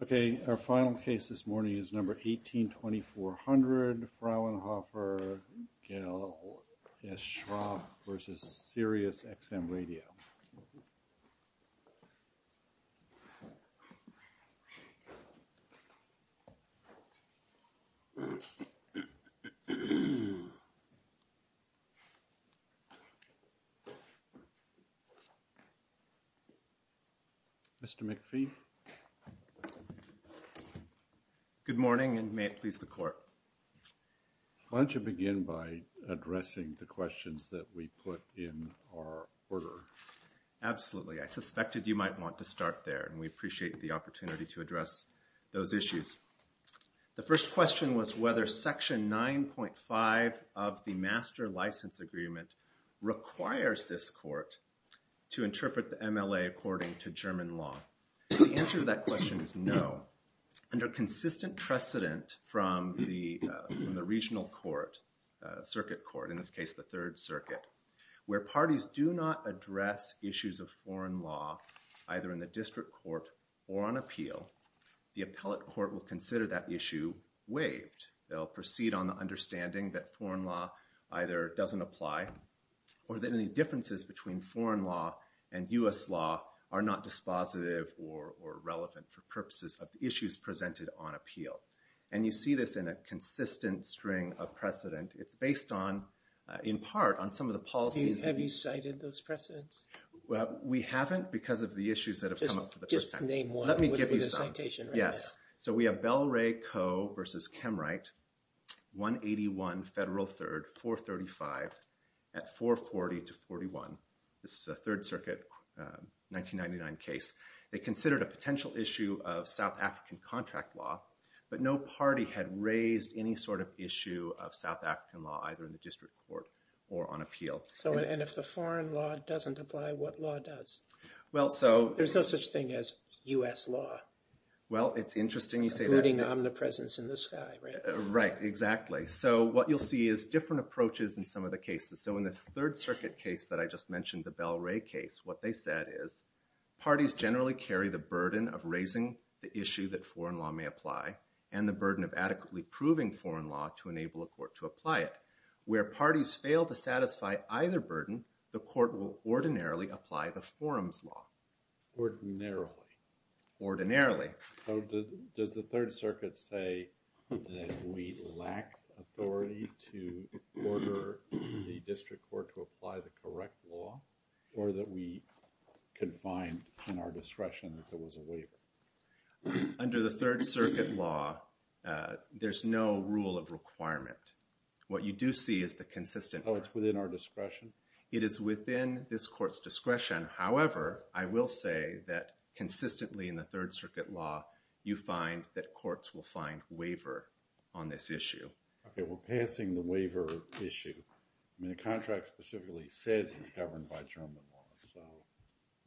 Okay, our final case this morning is number 182400, Fraunhofer-Gesellschaft v. Sirius XM Radio. Mr. McPhee. Good morning and may it please the court. Why don't you begin by giving us your order. Absolutely, I suspected you might want to start there and we appreciate the opportunity to address those issues. The first question was whether Section 9.5 of the Master License Agreement requires this court to interpret the MLA according to German law. The answer to that question is no. Under consistent precedent from the regional court, in this case the Third Circuit, where parties do not address issues of foreign law either in the district court or on appeal, the appellate court will consider that issue waived. They'll proceed on the understanding that foreign law either doesn't apply or that any differences between foreign law and U.S. law are not dispositive or relevant for purposes of issues presented on in part on some of the policies. Have you cited those precedents? Well, we haven't because of the issues that have come up for the first time. Just name one. Let me give you the citation. Yes. So we have Belray Co. v. Kemwright, 181 Federal 3rd, 435 at 440-41. This is a Third Circuit 1999 case. They considered a potential issue of South African contract law, but no party had raised any sort of foreign law either in the district court or on appeal. And if the foreign law doesn't apply, what law does? There's no such thing as U.S. law. Well, it's interesting you say that. Including omnipresence in the sky. Right, exactly. So what you'll see is different approaches in some of the cases. So in the Third Circuit case that I just mentioned, the Belray case, what they said is parties generally carry the burden of raising the issue that foreign law may apply and the burden of adequately proving foreign law to enable a court to apply it. Where parties fail to satisfy either burden, the court will ordinarily apply the forum's law. Ordinarily. Ordinarily. So does the Third Circuit say that we lack authority to order the district court to apply the correct law, or that we confined in our discretion that there was a waiver? Under the Third Circuit law, there's no rule of requirement. What you do see is the consistent... Oh, it's within our discretion? It is within this court's discretion. However, I will say that consistently in the Third Circuit law, you find that courts will find waiver on this issue. Okay, we're passing the waiver issue. I mean, the contract specifically says it's governed by German law. So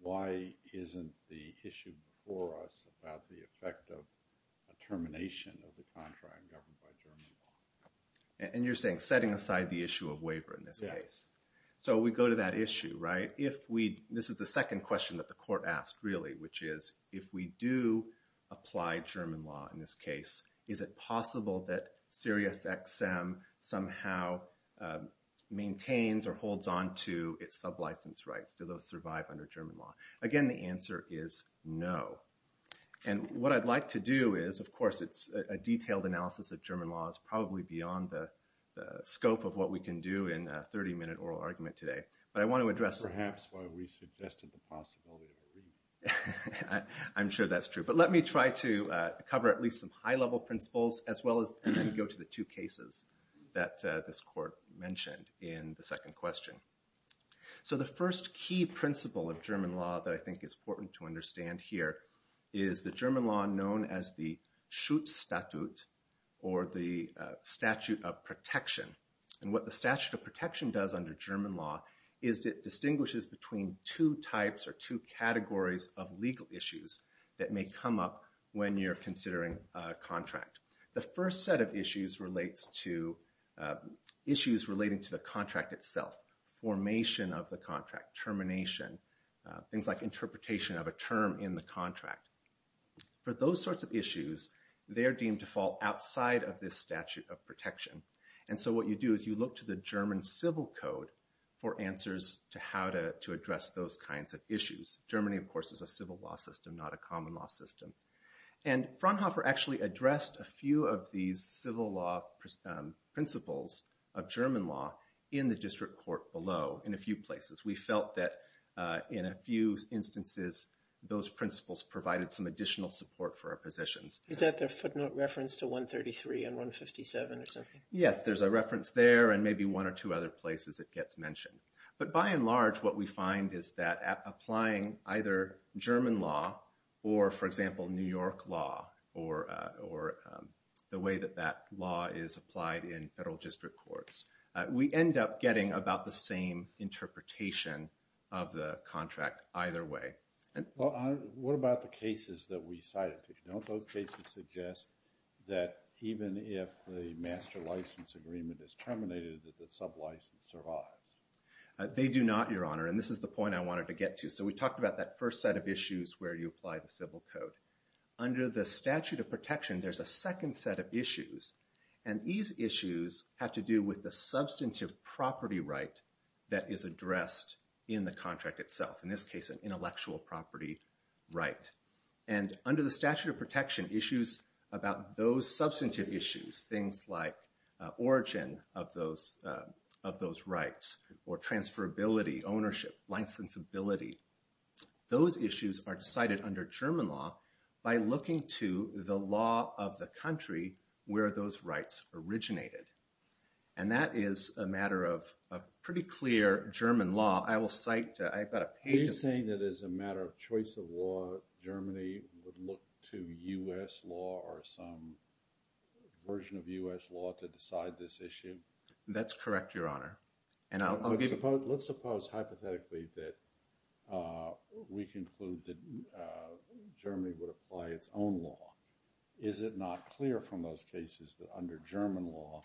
why isn't the issue before us about the effect of a termination of the contract governed by German law? And you're saying setting aside the issue of waiver in this case. So we go to that issue, right? This is the second question that the court asked, really, which is, if we do apply German law in this case, is it possible that Sirius XM somehow maintains or holds on to its sub-license rights? Do those survive under German law? Again, the answer is no. And what I'd like to do is, of course, it's a detailed analysis of German law. It's probably beyond the scope of what we can do in a 30-minute oral argument today. But I want to address... Perhaps why we suggested the possibility of a reading. I'm sure that's true. But let me try to cover at least some high-level principles, as well as go to the two cases that this court mentioned in the second question. So the first key principle of German law that I think is important to understand here is the German law known as the Schutzstatut, or the statute of protection. And what the statute of protection does under German law is it distinguishes between two types or two categories of legal issues that may come up when you're considering a contract. The first set of issues relates to issues relating to the contract itself, formation of the contract, termination, things like interpretation of a term in the contract. For those sorts of issues, they are deemed to fall outside of this statute of protection. And so what you do is you look to the German civil code for answers to how to address those kinds of issues. Germany, of course, is a civil law system, not a common law system. And Fraunhofer actually addressed a few of these civil law principles of German law in the district court below in a few places. We felt that in a few instances, those principles provided some additional support for our positions. Is that the footnote reference to 133 and 157 or something? Yes, there's a reference there and maybe one or two other places it gets mentioned. But by and large, what we find is that applying either German law or, for example, New York law, or the way that that law is applied in federal district courts, we end up getting about the same interpretation of the contract either way. What about the cases that we cited? Don't those cases suggest that even if the master license agreement is terminated, that the sub-license survives? They do not, Your Honor, and this is the point I wanted to get to. So we talked about that first set of issues where you apply the civil code. Under the statute of protection, there's a second set of issues. And these issues have to do with the substantive property right that is addressed in the contract itself. In this case, an intellectual property right. And under the statute of protection, issues about those substantive issues, things like origin of those rights, or transferability, ownership, licensability, those issues are decided under German law by looking to the law of the country where those rights originated. And that is a matter of pretty clear German law. Are you saying that as a matter of choice of law, Germany would look to U.S. law or some version of U.S. law to decide this issue? That's correct, Your Honor. Let's suppose hypothetically that we conclude that Germany would apply its own law. Is it not clear from those cases that under German law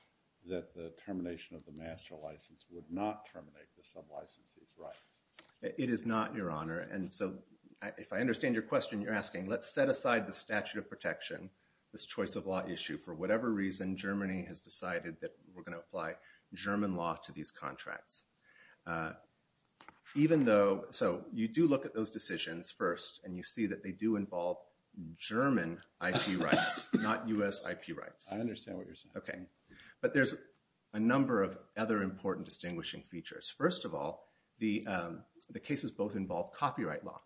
that the termination of the master license would not terminate the sub-licensee's rights? It is not, Your Honor. And so if I understand your question, you're asking, let's set aside the statute of protection, this choice of law issue. For whatever reason, Germany has decided that we're going to apply German law to these contracts. So you do look at those decisions first, and you see that they do involve German IP rights, not U.S. IP rights. I understand what you're saying. But there's a number of other important distinguishing features. First of all, the cases both involve copyright law,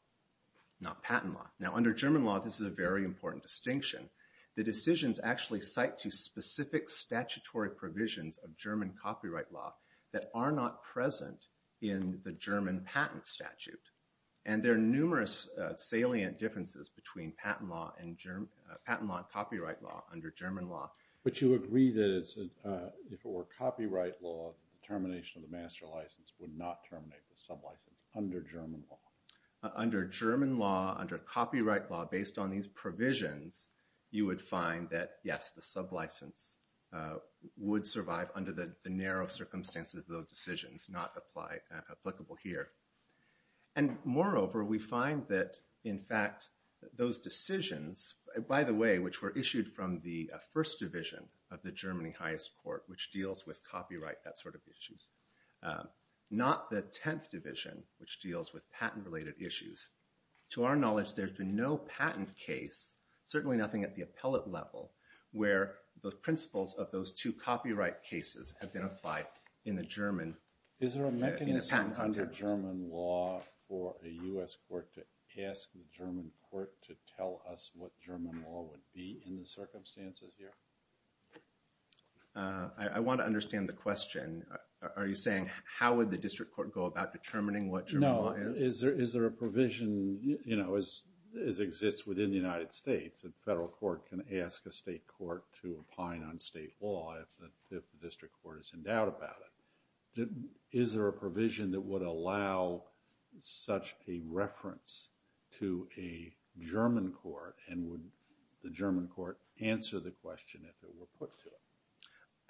not patent law. Now under German law, this is a very important distinction. The decisions actually cite to specific statutory provisions of German copyright law that are not present in the German patent statute. And there are numerous salient differences between patent law and copyright law under German law. But you agree that if it were copyright law, termination of the master license would not terminate the sub-license under German law? Under German law, under copyright law, based on these provisions, you would find that, yes, the sub-license would survive under the narrow circumstances of those decisions, not applicable here. And moreover, we find that, in fact, those decisions, by the way, which were issued from the first division of the Germany highest court, which deals with copyright, that sort of issues, not the 10th division, which deals with patent-related issues. To our knowledge, there's been no patent case, certainly nothing at the appellate level, where the principles of those two copyright cases have been applied in the German patent context. Is there a mechanism under German law for a U.S. court to ask the German court to tell us what German law would be in the circumstances here? I want to understand the question. Are you saying, how would the district court go about determining what German law is? No. Is there a provision, you know, as exists within the United States, a federal court can ask a state court to opine on state law if the district court is in doubt about it. Is there a provision that would allow such a reference to a German court, and would the German court answer the question if it were put to it?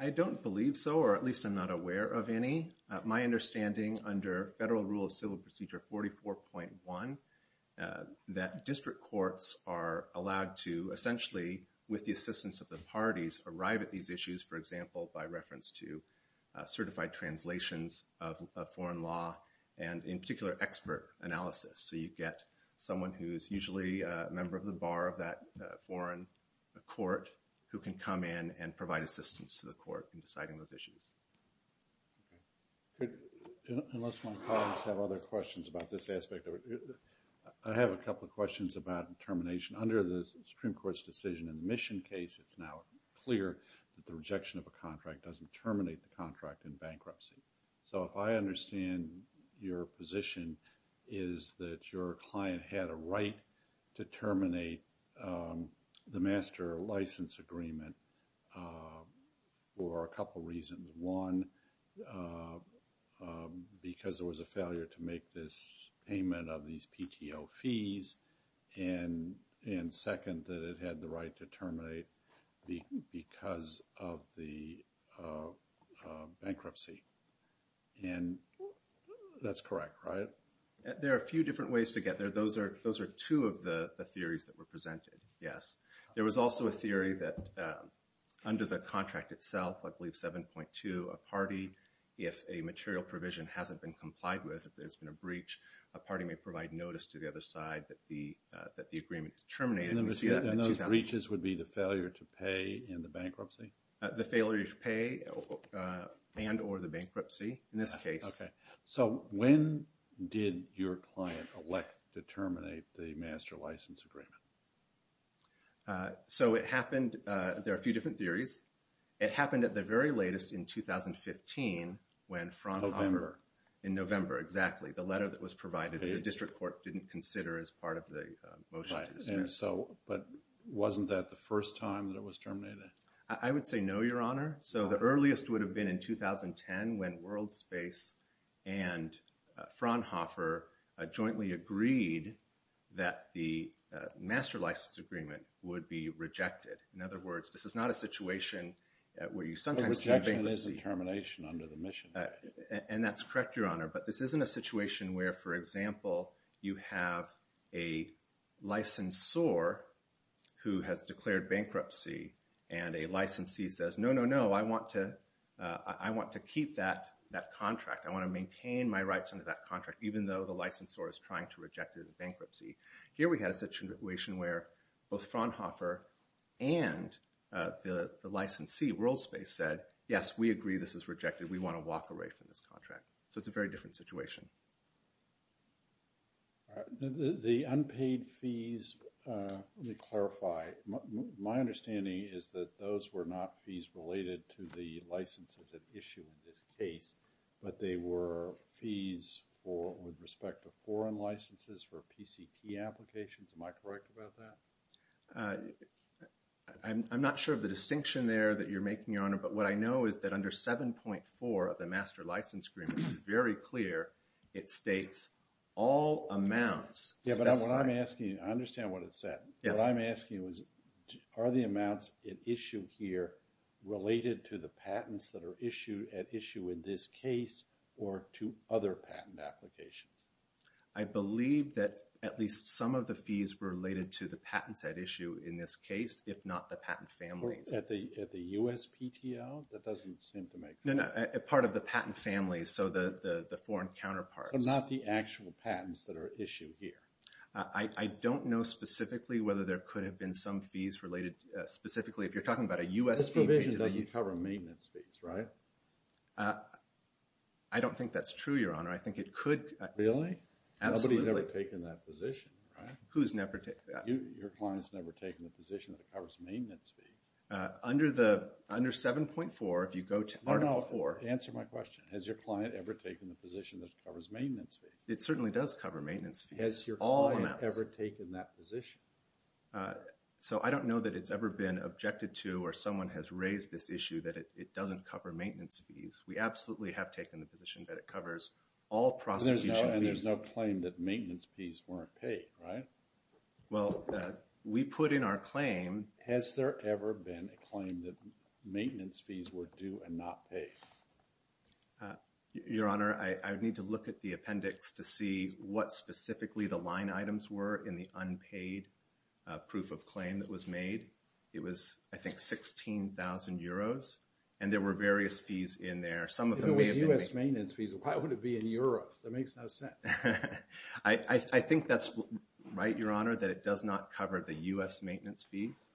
I don't believe so, or at least I'm not aware of any. My understanding, under Federal Rule of Civil Procedure 44.1, that district courts are allowed to, essentially, with the assistance of the parties, arrive at these issues, for example, by reference to certified translations of foreign law, and in particular, expert analysis. So you get someone who is usually a member of the bar of that foreign court, who can come in and provide assistance to the court in deciding those issues. Unless my colleagues have other questions about this aspect, I have a couple of questions about termination. Under the Supreme Court's decision in the Mission case, it's now clear that the rejection of a contract doesn't terminate the contract in bankruptcy. So if I understand your position, is that your client had a right to terminate the master license agreement for a couple reasons. One, because there was a failure to make this payment of these PTO fees, and second, that it had the right to terminate because of the bankruptcy. And that's correct, right? There are a few different ways to get there. Those are two of the theories that were presented, yes. There was also a theory that under the contract itself, I believe 7.2, a party, if a material provision hasn't been complied with, if there's been a breach, a party may provide notice to the other side that the agreement is terminated. And those breaches would be the failure to pay and the bankruptcy? The failure to pay and or the bankruptcy, in this case. So when did your client elect to terminate the master license agreement? So it happened, there are a few different theories. It happened at the very latest in 2015 when Fraunhofer, in November, exactly. The letter that was provided that the district court didn't consider as part of the motion. And so, but wasn't that the first time that it was terminated? I would say no, Your Honor. So the earliest would have been in 2010 when WorldSpace and Fraunhofer jointly agreed that the master license agreement would be rejected. In other words, this is not a situation where you sometimes see a bankruptcy. A rejection is a termination under the mission. And that's correct, Your Honor. But this isn't a situation where, for example, you have a licensor who has declared bankruptcy and a licensee says, no, no, no, I want to keep that contract. I want to maintain my rights under that contract, even though the licensor is trying to reject it in bankruptcy. Here we had a situation where both Fraunhofer and the licensee, WorldSpace, said, yes, we agree this is rejected. We want to walk away from this contract. So it's a very different situation. The unpaid fees, let me clarify. My understanding is that those were not fees related to the licenses at issue in this case, but they were fees with respect to foreign licenses for PCT applications. Am I correct about that? I'm not sure of the distinction there that you're making, Your Honor. But what I know is that under 7.4 of the master license agreement, it's very clear it states all amounts specified. Yeah, but what I'm asking, I understand what it said. What I'm asking is, are the amounts at issue here related to the patents that are at issue in this case, or to other patent applications? I believe that at least some of the fees were related to the patents at issue in this case, if not the patent families. At the USPTO? That doesn't seem to make sense. No, no, part of the patent families. So the foreign counterparts. But not the actual patents that are issued here? I don't know specifically whether there could have been some fees related, specifically if you're talking about a USPTO. This provision doesn't cover maintenance fees, right? I don't think that's true, Your Honor. I think it could. Really? Nobody's ever taken that position, right? Who's never taken that? Your client's never taken the position that it covers maintenance fees. Under 7.4, if you go to Article 4. No, no, answer my question. Has your client ever taken the position that it covers maintenance fees? It certainly does cover maintenance fees. Has your client ever taken that position? So I don't know that it's ever been objected to or someone has raised this issue that it doesn't cover maintenance fees. We absolutely have taken the position that it covers all prosecution fees. And there's no claim that maintenance fees weren't paid, right? Well, we put in our claim. Has there ever been a claim that maintenance fees were due and not paid? Your Honor, I would need to look at the appendix to see what specifically the line items were in the unpaid proof of claim that was made. It was, I think, 16,000 euros. And there were various fees in there. If it was U.S. maintenance fees, why would it be in Europe? That makes no sense. I think that's right, Your Honor, that it does not cover the U.S. maintenance fees.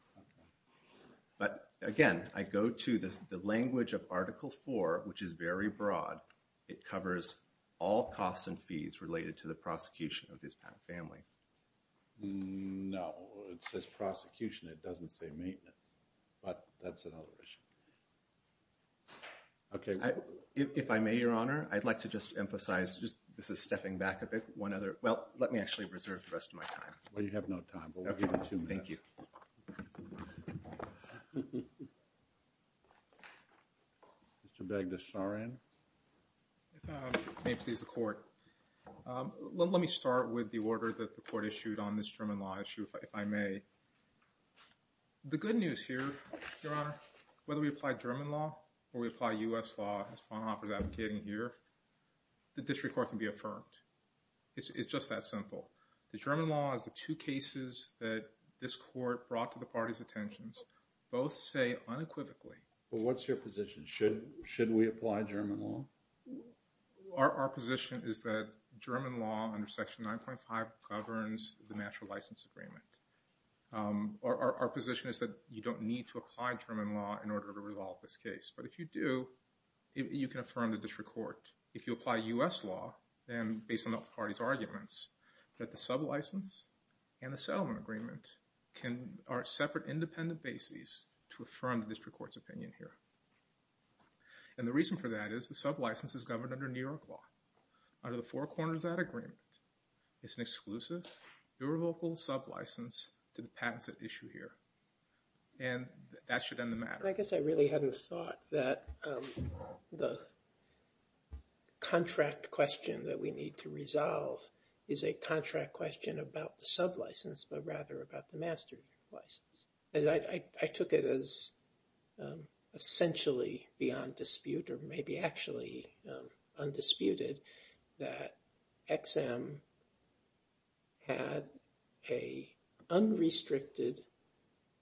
But again, I go to the language of Article 4, which is very broad. It covers all costs and fees related to the prosecution of these families. No, it says prosecution. It doesn't say maintenance. But that's another issue. If I may, Your Honor, I'd like to just emphasize, this is stepping back a bit, one other... Well, let me actually reserve the rest of my time. Well, you have no time, but we'll give you two minutes. Thank you. Thank you. Mr. Bagdasarian. If I may please the Court. Let me start with the order that the Court issued on this German law issue, if I may. The good news here, Your Honor, whether we apply German law or we apply U.S. law, as Faunhofer is advocating here, the District Court can be affirmed. It's just that simple. The German law is the two cases that this Court brought to the parties' attentions. Both say unequivocally... Well, what's your position? Should we apply German law? Our position is that German law under Section 9.5 governs the National License Agreement. Our position is that you don't need to apply German law in order to resolve this case. But if you do, you can affirm the District Court. If you apply U.S. law, then based on the parties' arguments, that the sub-license and the settlement agreement are separate independent bases to affirm the District Court's opinion here. And the reason for that is the sub-license is governed under New York law. Under the four corners of that agreement, it's an exclusive, irrevocable sub-license to the patents at issue here. And that should end the matter. I guess I really hadn't thought that the contract question that we need to resolve is a contract question about the sub-license, but rather about the master license. I took it as essentially beyond dispute, or maybe actually undisputed, that XM had an unrestricted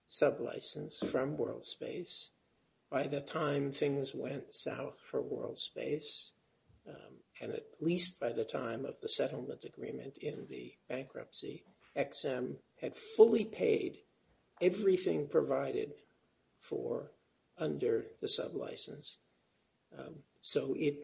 sub-license from WorldSpace by the time things went south for WorldSpace, and at least by the time of the settlement agreement in the bankruptcy, XM had fully paid everything provided for under the sub-license. So it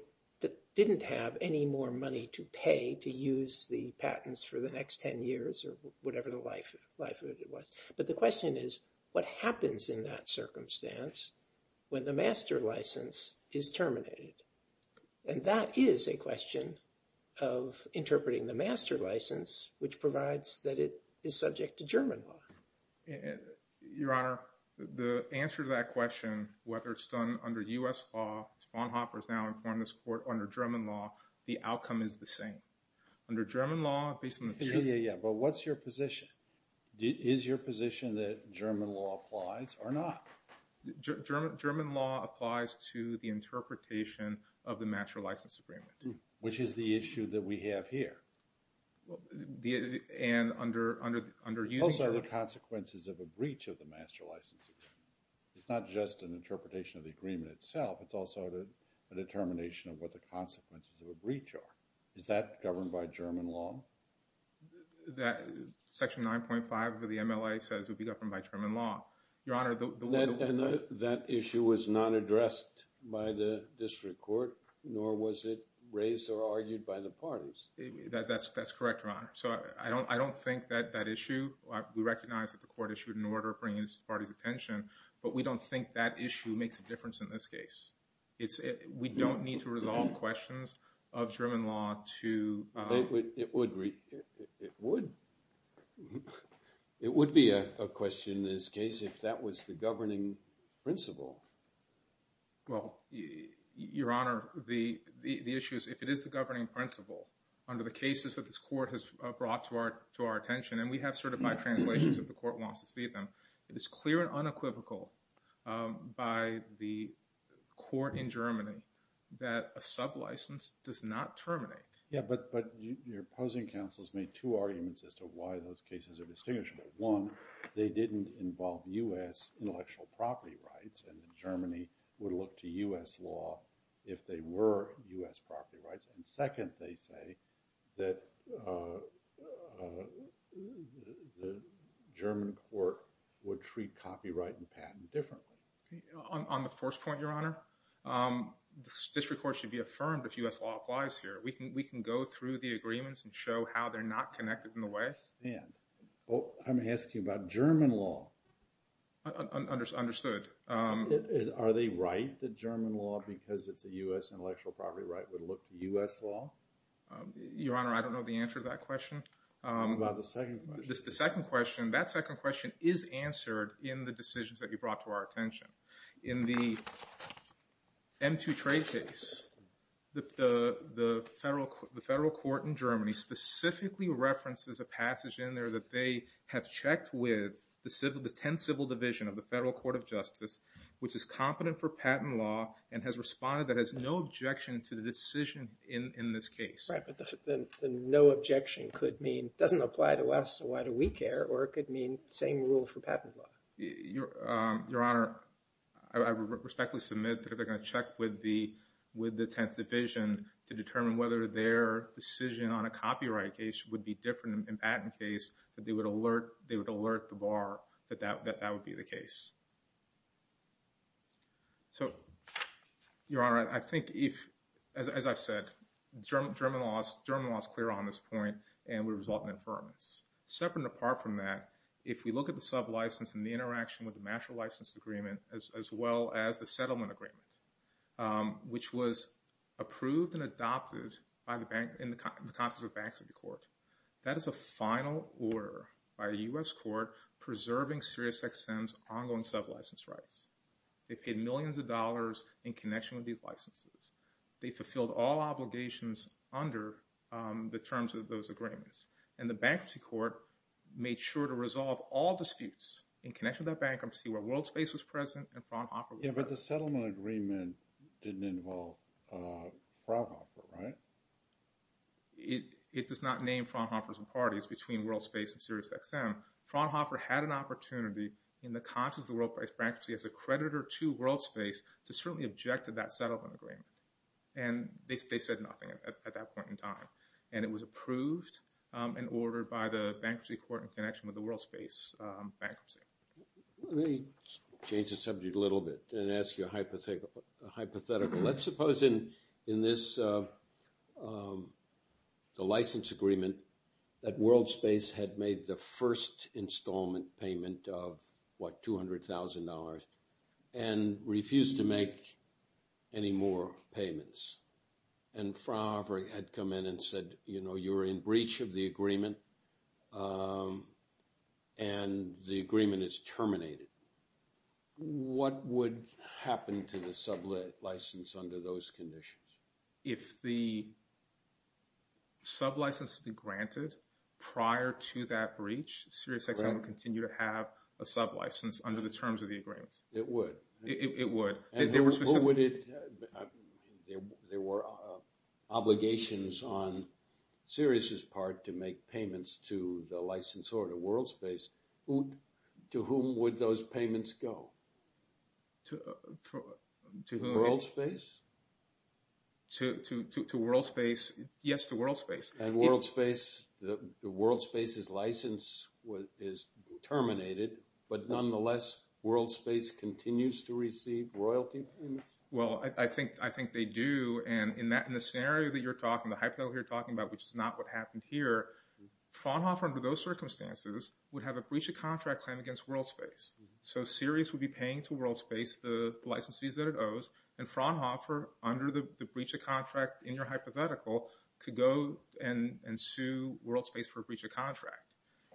didn't have any more money to pay to use the patents for the next 10 years, or whatever the life of it was. But the question is, what happens in that circumstance when the master license is terminated? And that is a question of interpreting the master license, which provides that it is subject to German law. Your Honor, the answer to that question, whether it's done under U.S. law, because Bonhoeffer is now in foreman's court under German law, the outcome is the same. Under German law, based on the... Yeah, yeah, yeah, but what's your position? Is your position that German law applies or not? German law applies to the interpretation of the master license agreement. Which is the issue that we have here. It's also the consequences of a breach of the master license agreement. It's not just an interpretation of the agreement itself, it's also a determination of what the consequences of a breach are. Is that governed by German law? Section 9.5 of the MLA says it would be governed by German law. Your Honor, the... And that issue was not addressed by the district court, nor was it raised or argued by the parties. That's correct, Your Honor. So I don't think that issue, we recognize that the court issued an order bringing the parties' attention, but we don't think that issue makes a difference in this case. We don't need to resolve questions of German law to... It would. It would. It would be a question in this case if that was the governing principle. Well, Your Honor, the issue is if it is the governing principle under the cases that this court has brought to our attention, and we have certified translations if the court wants to see them, it is clear and unequivocal by the court in Germany that a sub-license does not terminate. But your opposing counsel has made two arguments as to why those cases are distinguishable. One, they didn't involve U.S. intellectual property rights, and Germany would look to U.S. law if they were U.S. property rights. And second, they say that the German court would treat copyright and patent differently. On the first point, Your Honor, the district court should be affirmed if U.S. law applies here. We can go through the agreements and show how they're not connected in the way. I'm asking about German law. Understood. Are they right that German law, because it's a U.S. intellectual property right, would look to U.S. law? Your Honor, I don't know the answer to that question. What about the second question? The second question, that second question is answered in the decisions that you brought to our attention. In the M2 trade case, the federal court in Germany specifically references a passage in there that they have checked with the 10th Civil Division of the Federal Court of Justice, which is competent for patent law, and has responded that has no objection to the decision in this case. Right, but the no objection could mean it doesn't apply to us, so why do we care? Or it could mean the same rule for patent law. Your Honor, I respectfully submit that if they're going to check with the 10th Division to determine whether their decision on a copyright case would be different in a patent case, that they would alert the bar that that would be the case. So, Your Honor, I think if, as I've said, German law is clear on this point, and we result in affirmance. Separate and apart from that, if we look at the sublicense and the interaction with the master license agreement, as well as the settlement agreement, which was approved and adopted in the context of bankruptcy court, that is a final order by the U.S. court preserving SiriusXM's ongoing sublicense rights. They paid millions of dollars in connection with these licenses. They fulfilled all obligations under the terms of those agreements. And the bankruptcy court made sure to resolve all disputes in connection with that bankruptcy where WorldSpace was present and Fraunhofer was not. Yeah, but the settlement agreement didn't involve Fraunhofer, right? It does not name Fraunhofer's parties between WorldSpace and SiriusXM. Fraunhofer had an opportunity in the context of the WorldSpace bankruptcy as a creditor to WorldSpace to certainly object to that settlement agreement. And they said nothing at that point in time. And it was approved and ordered by the bankruptcy court in connection with the WorldSpace bankruptcy. Let me change the subject a little bit and ask you a hypothetical. Let's suppose in this, the license agreement, that WorldSpace had made the first installment payment of, what, $200,000 and refused to make any more payments. And Fraunhofer had come in and said, you know, you're in breach of the agreement and the agreement is terminated. What would happen to the sub-license under those conditions? If the sub-license had been granted prior to that breach, SiriusXM would continue to have a sub-license under the terms of the agreements. It would. It would. And what would it... There were obligations on Sirius' part to make payments to the licensor to WorldSpace. To whom would those payments go? To whom? To WorldSpace? To WorldSpace. Yes, to WorldSpace. And WorldSpace, the WorldSpace's license is terminated. But nonetheless, WorldSpace continues to receive royalty payments? Well, I think they do. And in the scenario that you're talking, the hypothetical you're talking about, which is not what happened here, Fraunhofer, under those circumstances, would have a breach of contract claim against WorldSpace. So Sirius would be paying to WorldSpace the licenses that it owes, and Fraunhofer, under the breach of contract in your hypothetical, could go and sue WorldSpace for a breach of contract.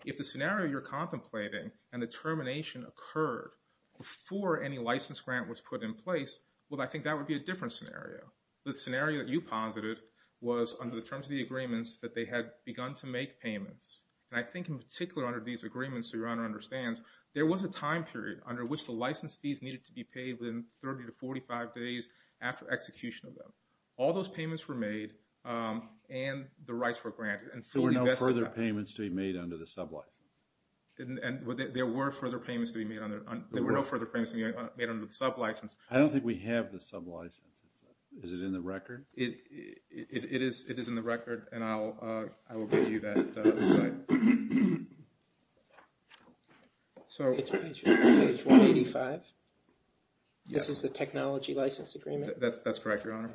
If the scenario you're contemplating and the termination occurred before any license grant was put in place, well, I think that would be a different scenario. The scenario that you posited was under the terms of the agreements that they had begun to make payments. And I think in particular under these agreements, so Your Honor understands, there was a time period under which the license fees needed to be paid within 30 to 45 days after execution of them. All those payments were made, and the rights were granted. So there were no further payments to be made under the sublicense? There were no further payments to be made under the sublicense. I don't think we have the sublicense. Is it in the record? It is in the record, and I will give you that. It's page 185? Yes. This is the technology license agreement? That's correct, Your Honor.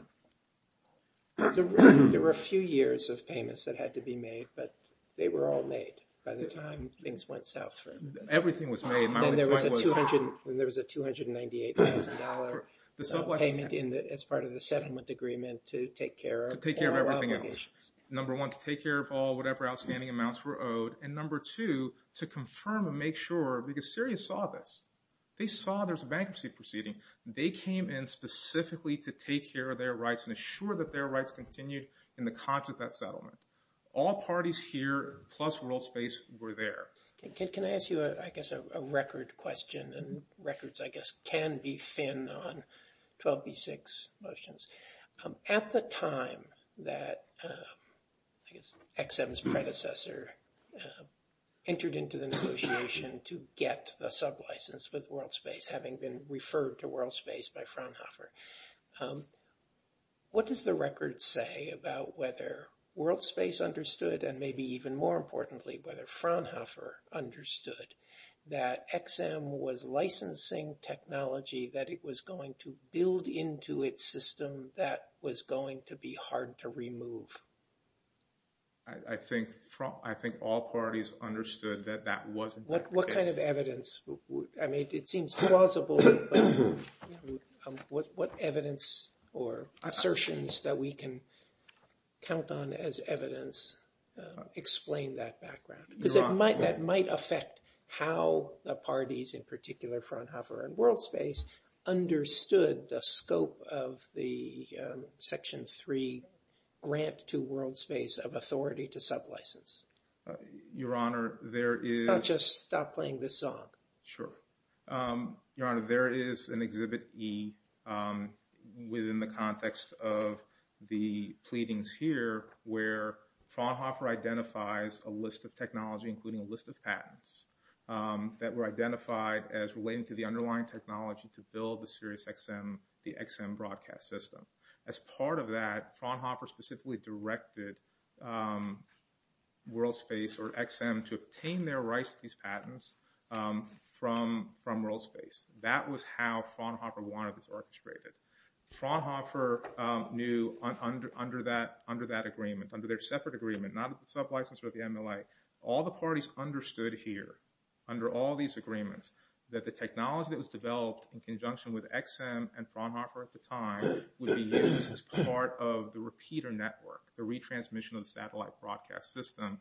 There were a few years of payments that had to be made, but they were all made by the time things went south. Everything was made. And there was a $298,000 payment as part of the settlement agreement to take care of all obligations. To take care of everything else. Number one, to take care of all whatever outstanding amounts were owed. And number two, to confirm and make sure, because Syria saw this. They saw there was a bankruptcy proceeding. They came in specifically to take care of their rights and assure that their rights continued in the context of that settlement. All parties here, plus WorldSpace, were there. Can I ask you, I guess, a record question? And records, I guess, can be thin on 12b6 motions. At the time that XM's predecessor entered into the negotiation to get the sublicense with WorldSpace, having been referred to WorldSpace by Fraunhofer, what does the record say about whether WorldSpace understood, and maybe even more importantly, whether Fraunhofer understood, that XM was licensing technology that it was going to build into its system that was going to be hard to remove? I think all parties understood that that wasn't the case. What kind of evidence? I mean, it seems plausible, but what evidence or assertions that we can count on as evidence explain that background? Because that might affect how the parties, in particular Fraunhofer and WorldSpace, understood the scope of the Section 3 grant to WorldSpace of authority to sublicense. Your Honor, there is... So I'll just stop playing this song. Sure. Your Honor, there is an Exhibit E within the context of the pleadings here, where Fraunhofer identifies a list of technology, including a list of patents, that were identified as relating to the underlying technology to build the SiriusXM broadcast system. As part of that, Fraunhofer specifically directed WorldSpace or XM to obtain their rights to these patents from WorldSpace. That was how Fraunhofer wanted this orchestrated. Fraunhofer knew under that agreement, under their separate agreement, not at the sublicense or the MLA, all the parties understood here, under all these agreements, that the technology that was developed in conjunction with XM and Fraunhofer at the time would be used as part of the repeater network, the retransmission of the satellite broadcast system,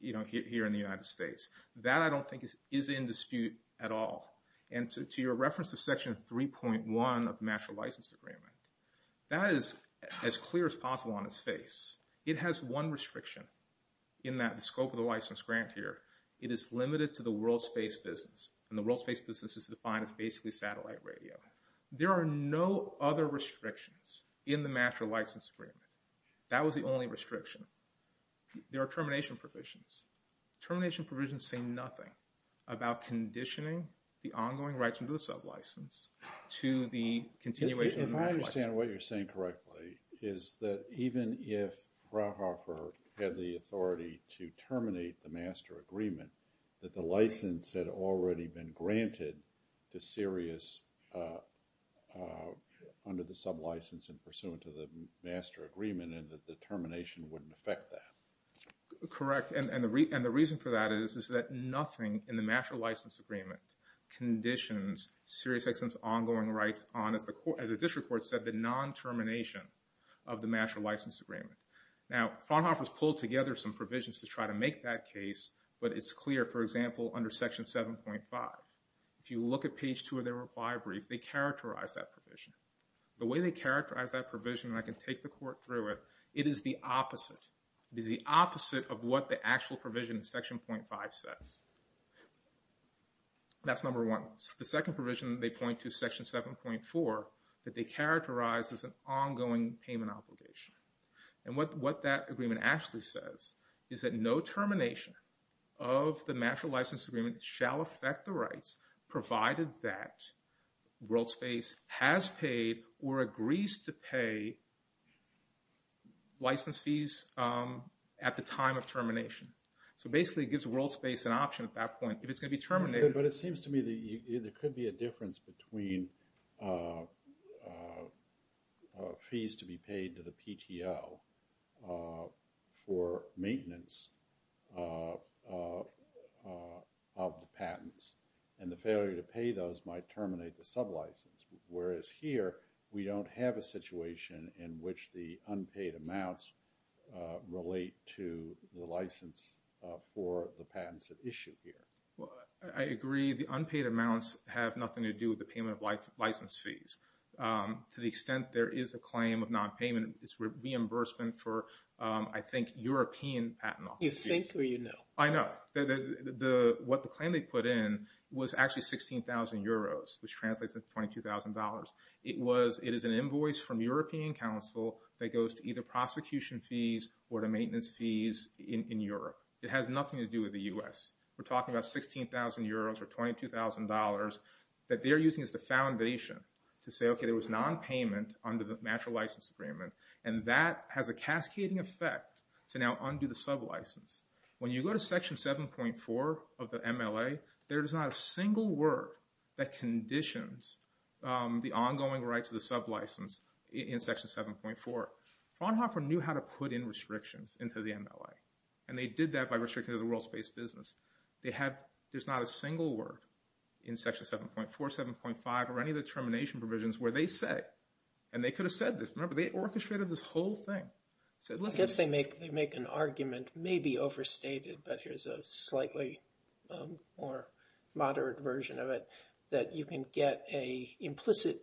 you know, here in the United States. That, I don't think, is in dispute at all. And to your reference to Section 3.1 of the Master License Agreement, that is as clear as possible on its face. It has one restriction in the scope of the license grant here. It is limited to the WorldSpace business, and the WorldSpace business is defined as basically satellite radio. There are no other restrictions in the Master License Agreement. That was the only restriction. There are termination provisions. Termination provisions say nothing about conditioning the ongoing rights under the sublicense to the continuation of the license. If I understand what you're saying correctly, is that even if Fraunhofer had the authority to terminate the Master Agreement, that the license had already been granted to Sirius under the sublicense and pursuant to the Master Agreement, and that the termination wouldn't affect that? Correct. And the reason for that is that nothing in the Master License Agreement conditions SiriusXM's ongoing rights on, as the District Court said, the non-termination of the Master License Agreement. Now, Fraunhofer's pulled together some provisions to try to make that case, but it's clear, for example, under Section 7.5. If you look at page 2 of their reply brief, they characterize that provision. The way they characterize that provision, and I can take the Court through it, it is the opposite. It is the opposite of what the actual provision in Section 7.5 says. That's number one. The second provision they point to, Section 7.4, that they characterize as an ongoing payment obligation. And what that agreement actually says is that no termination of the Master License Agreement shall affect the rights, provided that WorldSpace has paid or agrees to pay license fees at the time of termination. So basically, it gives WorldSpace an option at that point. If it's going to be terminated... But it seems to me that there could be a difference between fees to be paid to the PTO for maintenance of the patents, and the failure to pay those might terminate the sub-license. Whereas here, we don't have a situation in which the unpaid amounts relate to the license for the patents at issue here. I agree. The unpaid amounts have nothing to do with the payment of license fees. To the extent there is a claim of non-payment, it's reimbursement for, I think, European patent office fees. You think or you know? I know. What the claim they put in was actually 16,000 euros, which translates into $22,000. It is an invoice from European counsel that goes to either prosecution fees or to maintenance fees in Europe. It has nothing to do with the U.S. We're talking about 16,000 euros or $22,000 that they're using as the foundation to say, okay, there was non-payment under the natural license agreement and that has a cascading effect to now undo the sub-license. When you go to section 7.4 of the MLA, there is not a single word that conditions the ongoing rights of the sub-license in section 7.4. Fraunhofer knew how to put in restrictions into the MLA, and they did that by restricting the world space business. There's not a single word in section 7.4, 7.5, or any of the termination provisions where they say, and they could have said this, remember, they orchestrated this whole thing. I guess they make an argument maybe overstated, but here's a slightly more moderate version of it, that you can get an implicit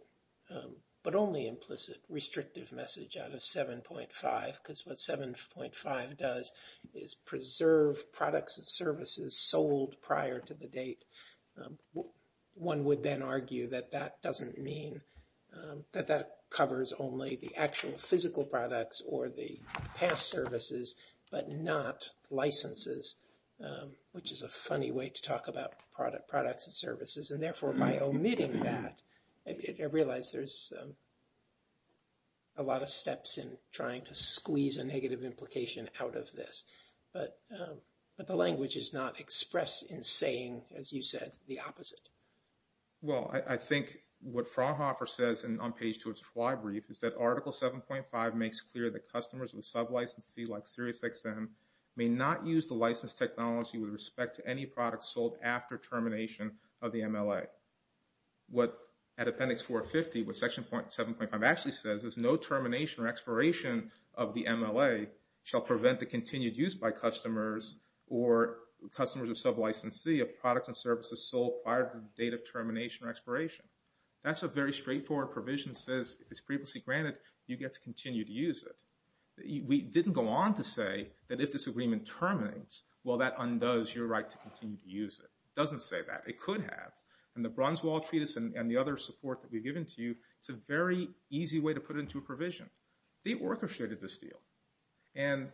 but only implicit restrictive message out of 7.5 because what 7.5 does is preserve products and services sold prior to the date. One would then argue that that doesn't mean that that covers only the actual physical products or the past services, but not licenses, which is a funny way to talk about products and services, and therefore by omitting that, I realize there's a lot of steps in trying to squeeze a negative implication out of this, but the language is not expressed in saying, as you said, the opposite. Well, I think what Fraunhofer says on page 2 of his fly brief is that article 7.5 makes clear that customers with sub-licensee, like SiriusXM, may not use the license technology with respect to any products sold after termination of the MLA. What, at Appendix 450, what section 7.5 actually says is no termination or expiration of the MLA shall prevent the continued use by customers or customers of sub-licensee of products and services sold prior to the date of termination or expiration. That's a very straightforward provision that says, if it's previously granted, you get to continue to use it. We didn't go on to say that if this was your right to continue to use it. It doesn't say that. It could have. And the Brunswell Treatise and the other support that we've given to you, it's a very easy way to put it into a provision. They orchestrated this deal. And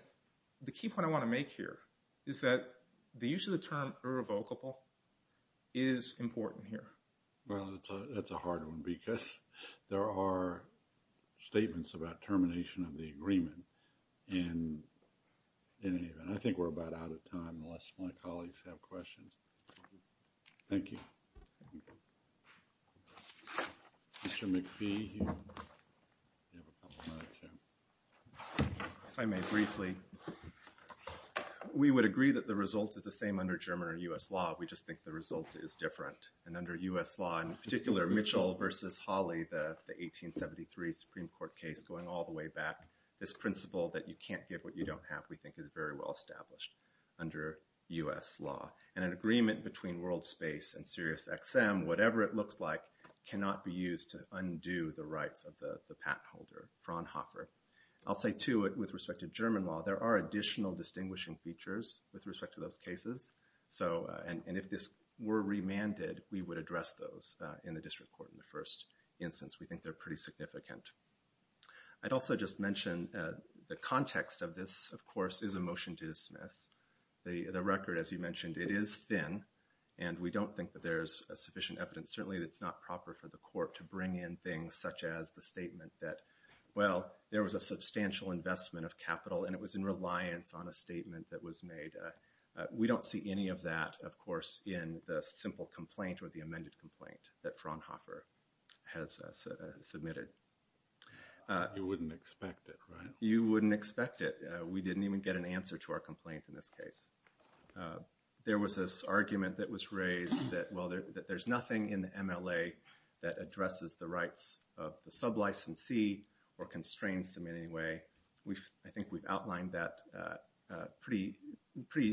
the key point I want to make here is that the use of the term irrevocable is important here. Well, that's a hard one because there are statements about termination of the agreement and I think we're about out of time unless my colleagues have questions. Thank you. If I may briefly, we would agree that the result is the same under German or U.S. law. We just think the result is different. And under U.S. law, in particular, Mitchell versus Hawley, the 1873 Supreme Court case going all the way back, this principle that you can't give what you don't have we think is very well established under U.S. law. And an agreement between WorldSpace and SiriusXM, whatever it looks like, cannot be used to undo the rights of the patent holder, Fraunhofer. I'll say, too, with respect to German law, there are additional distinguishing features with respect to those cases. So, and if this were remanded, we would address those in the district court in the first instance. We think they're pretty significant. I'd also just mention the context of this, of course, is a motion to dismiss. The record, as you mentioned, it is thin, and we don't think that there's sufficient evidence. Certainly, it's not proper for the court to bring in things such as the statement that, well, there was a substantial investment of capital and it was in reliance on a statement that was made. We don't see any of that, of course, in the simple complaint or the amended complaint that Fraunhofer has submitted. You wouldn't expect it, right? You wouldn't expect it. We didn't even get an answer to our complaint in this case. There was this argument that was raised that, well, there's nothing in the MLA that addresses the rights of the sub-licensee or constrains them in any way. I think we've outlined that pretty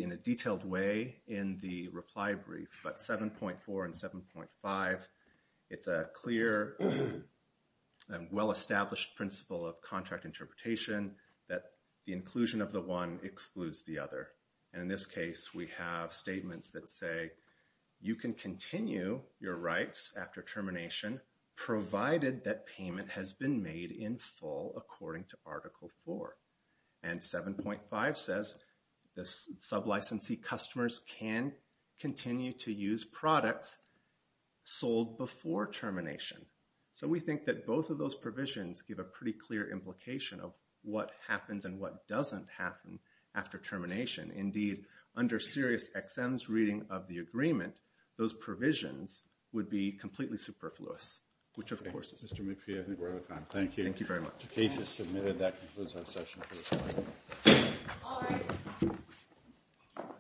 in a detailed way in the reply brief, but 7.4 and 7.5, it's a clear and well-established principle of contract interpretation that the inclusion of the one excludes the other. In this case, we have statements that say you can continue your rights after termination, provided that payment has been made in full, according to Article 4. And 7.5 says the sub-licensee customers can continue to use products sold before termination. So we think that both of those provisions give a pretty clear implication of what happens and what doesn't happen after termination. Indeed, under SiriusXM's reading of the agreement, those provisions would be completely superfluous. Mr. McPhee, I think we're out of time. Thank you. The case is submitted. That concludes our session.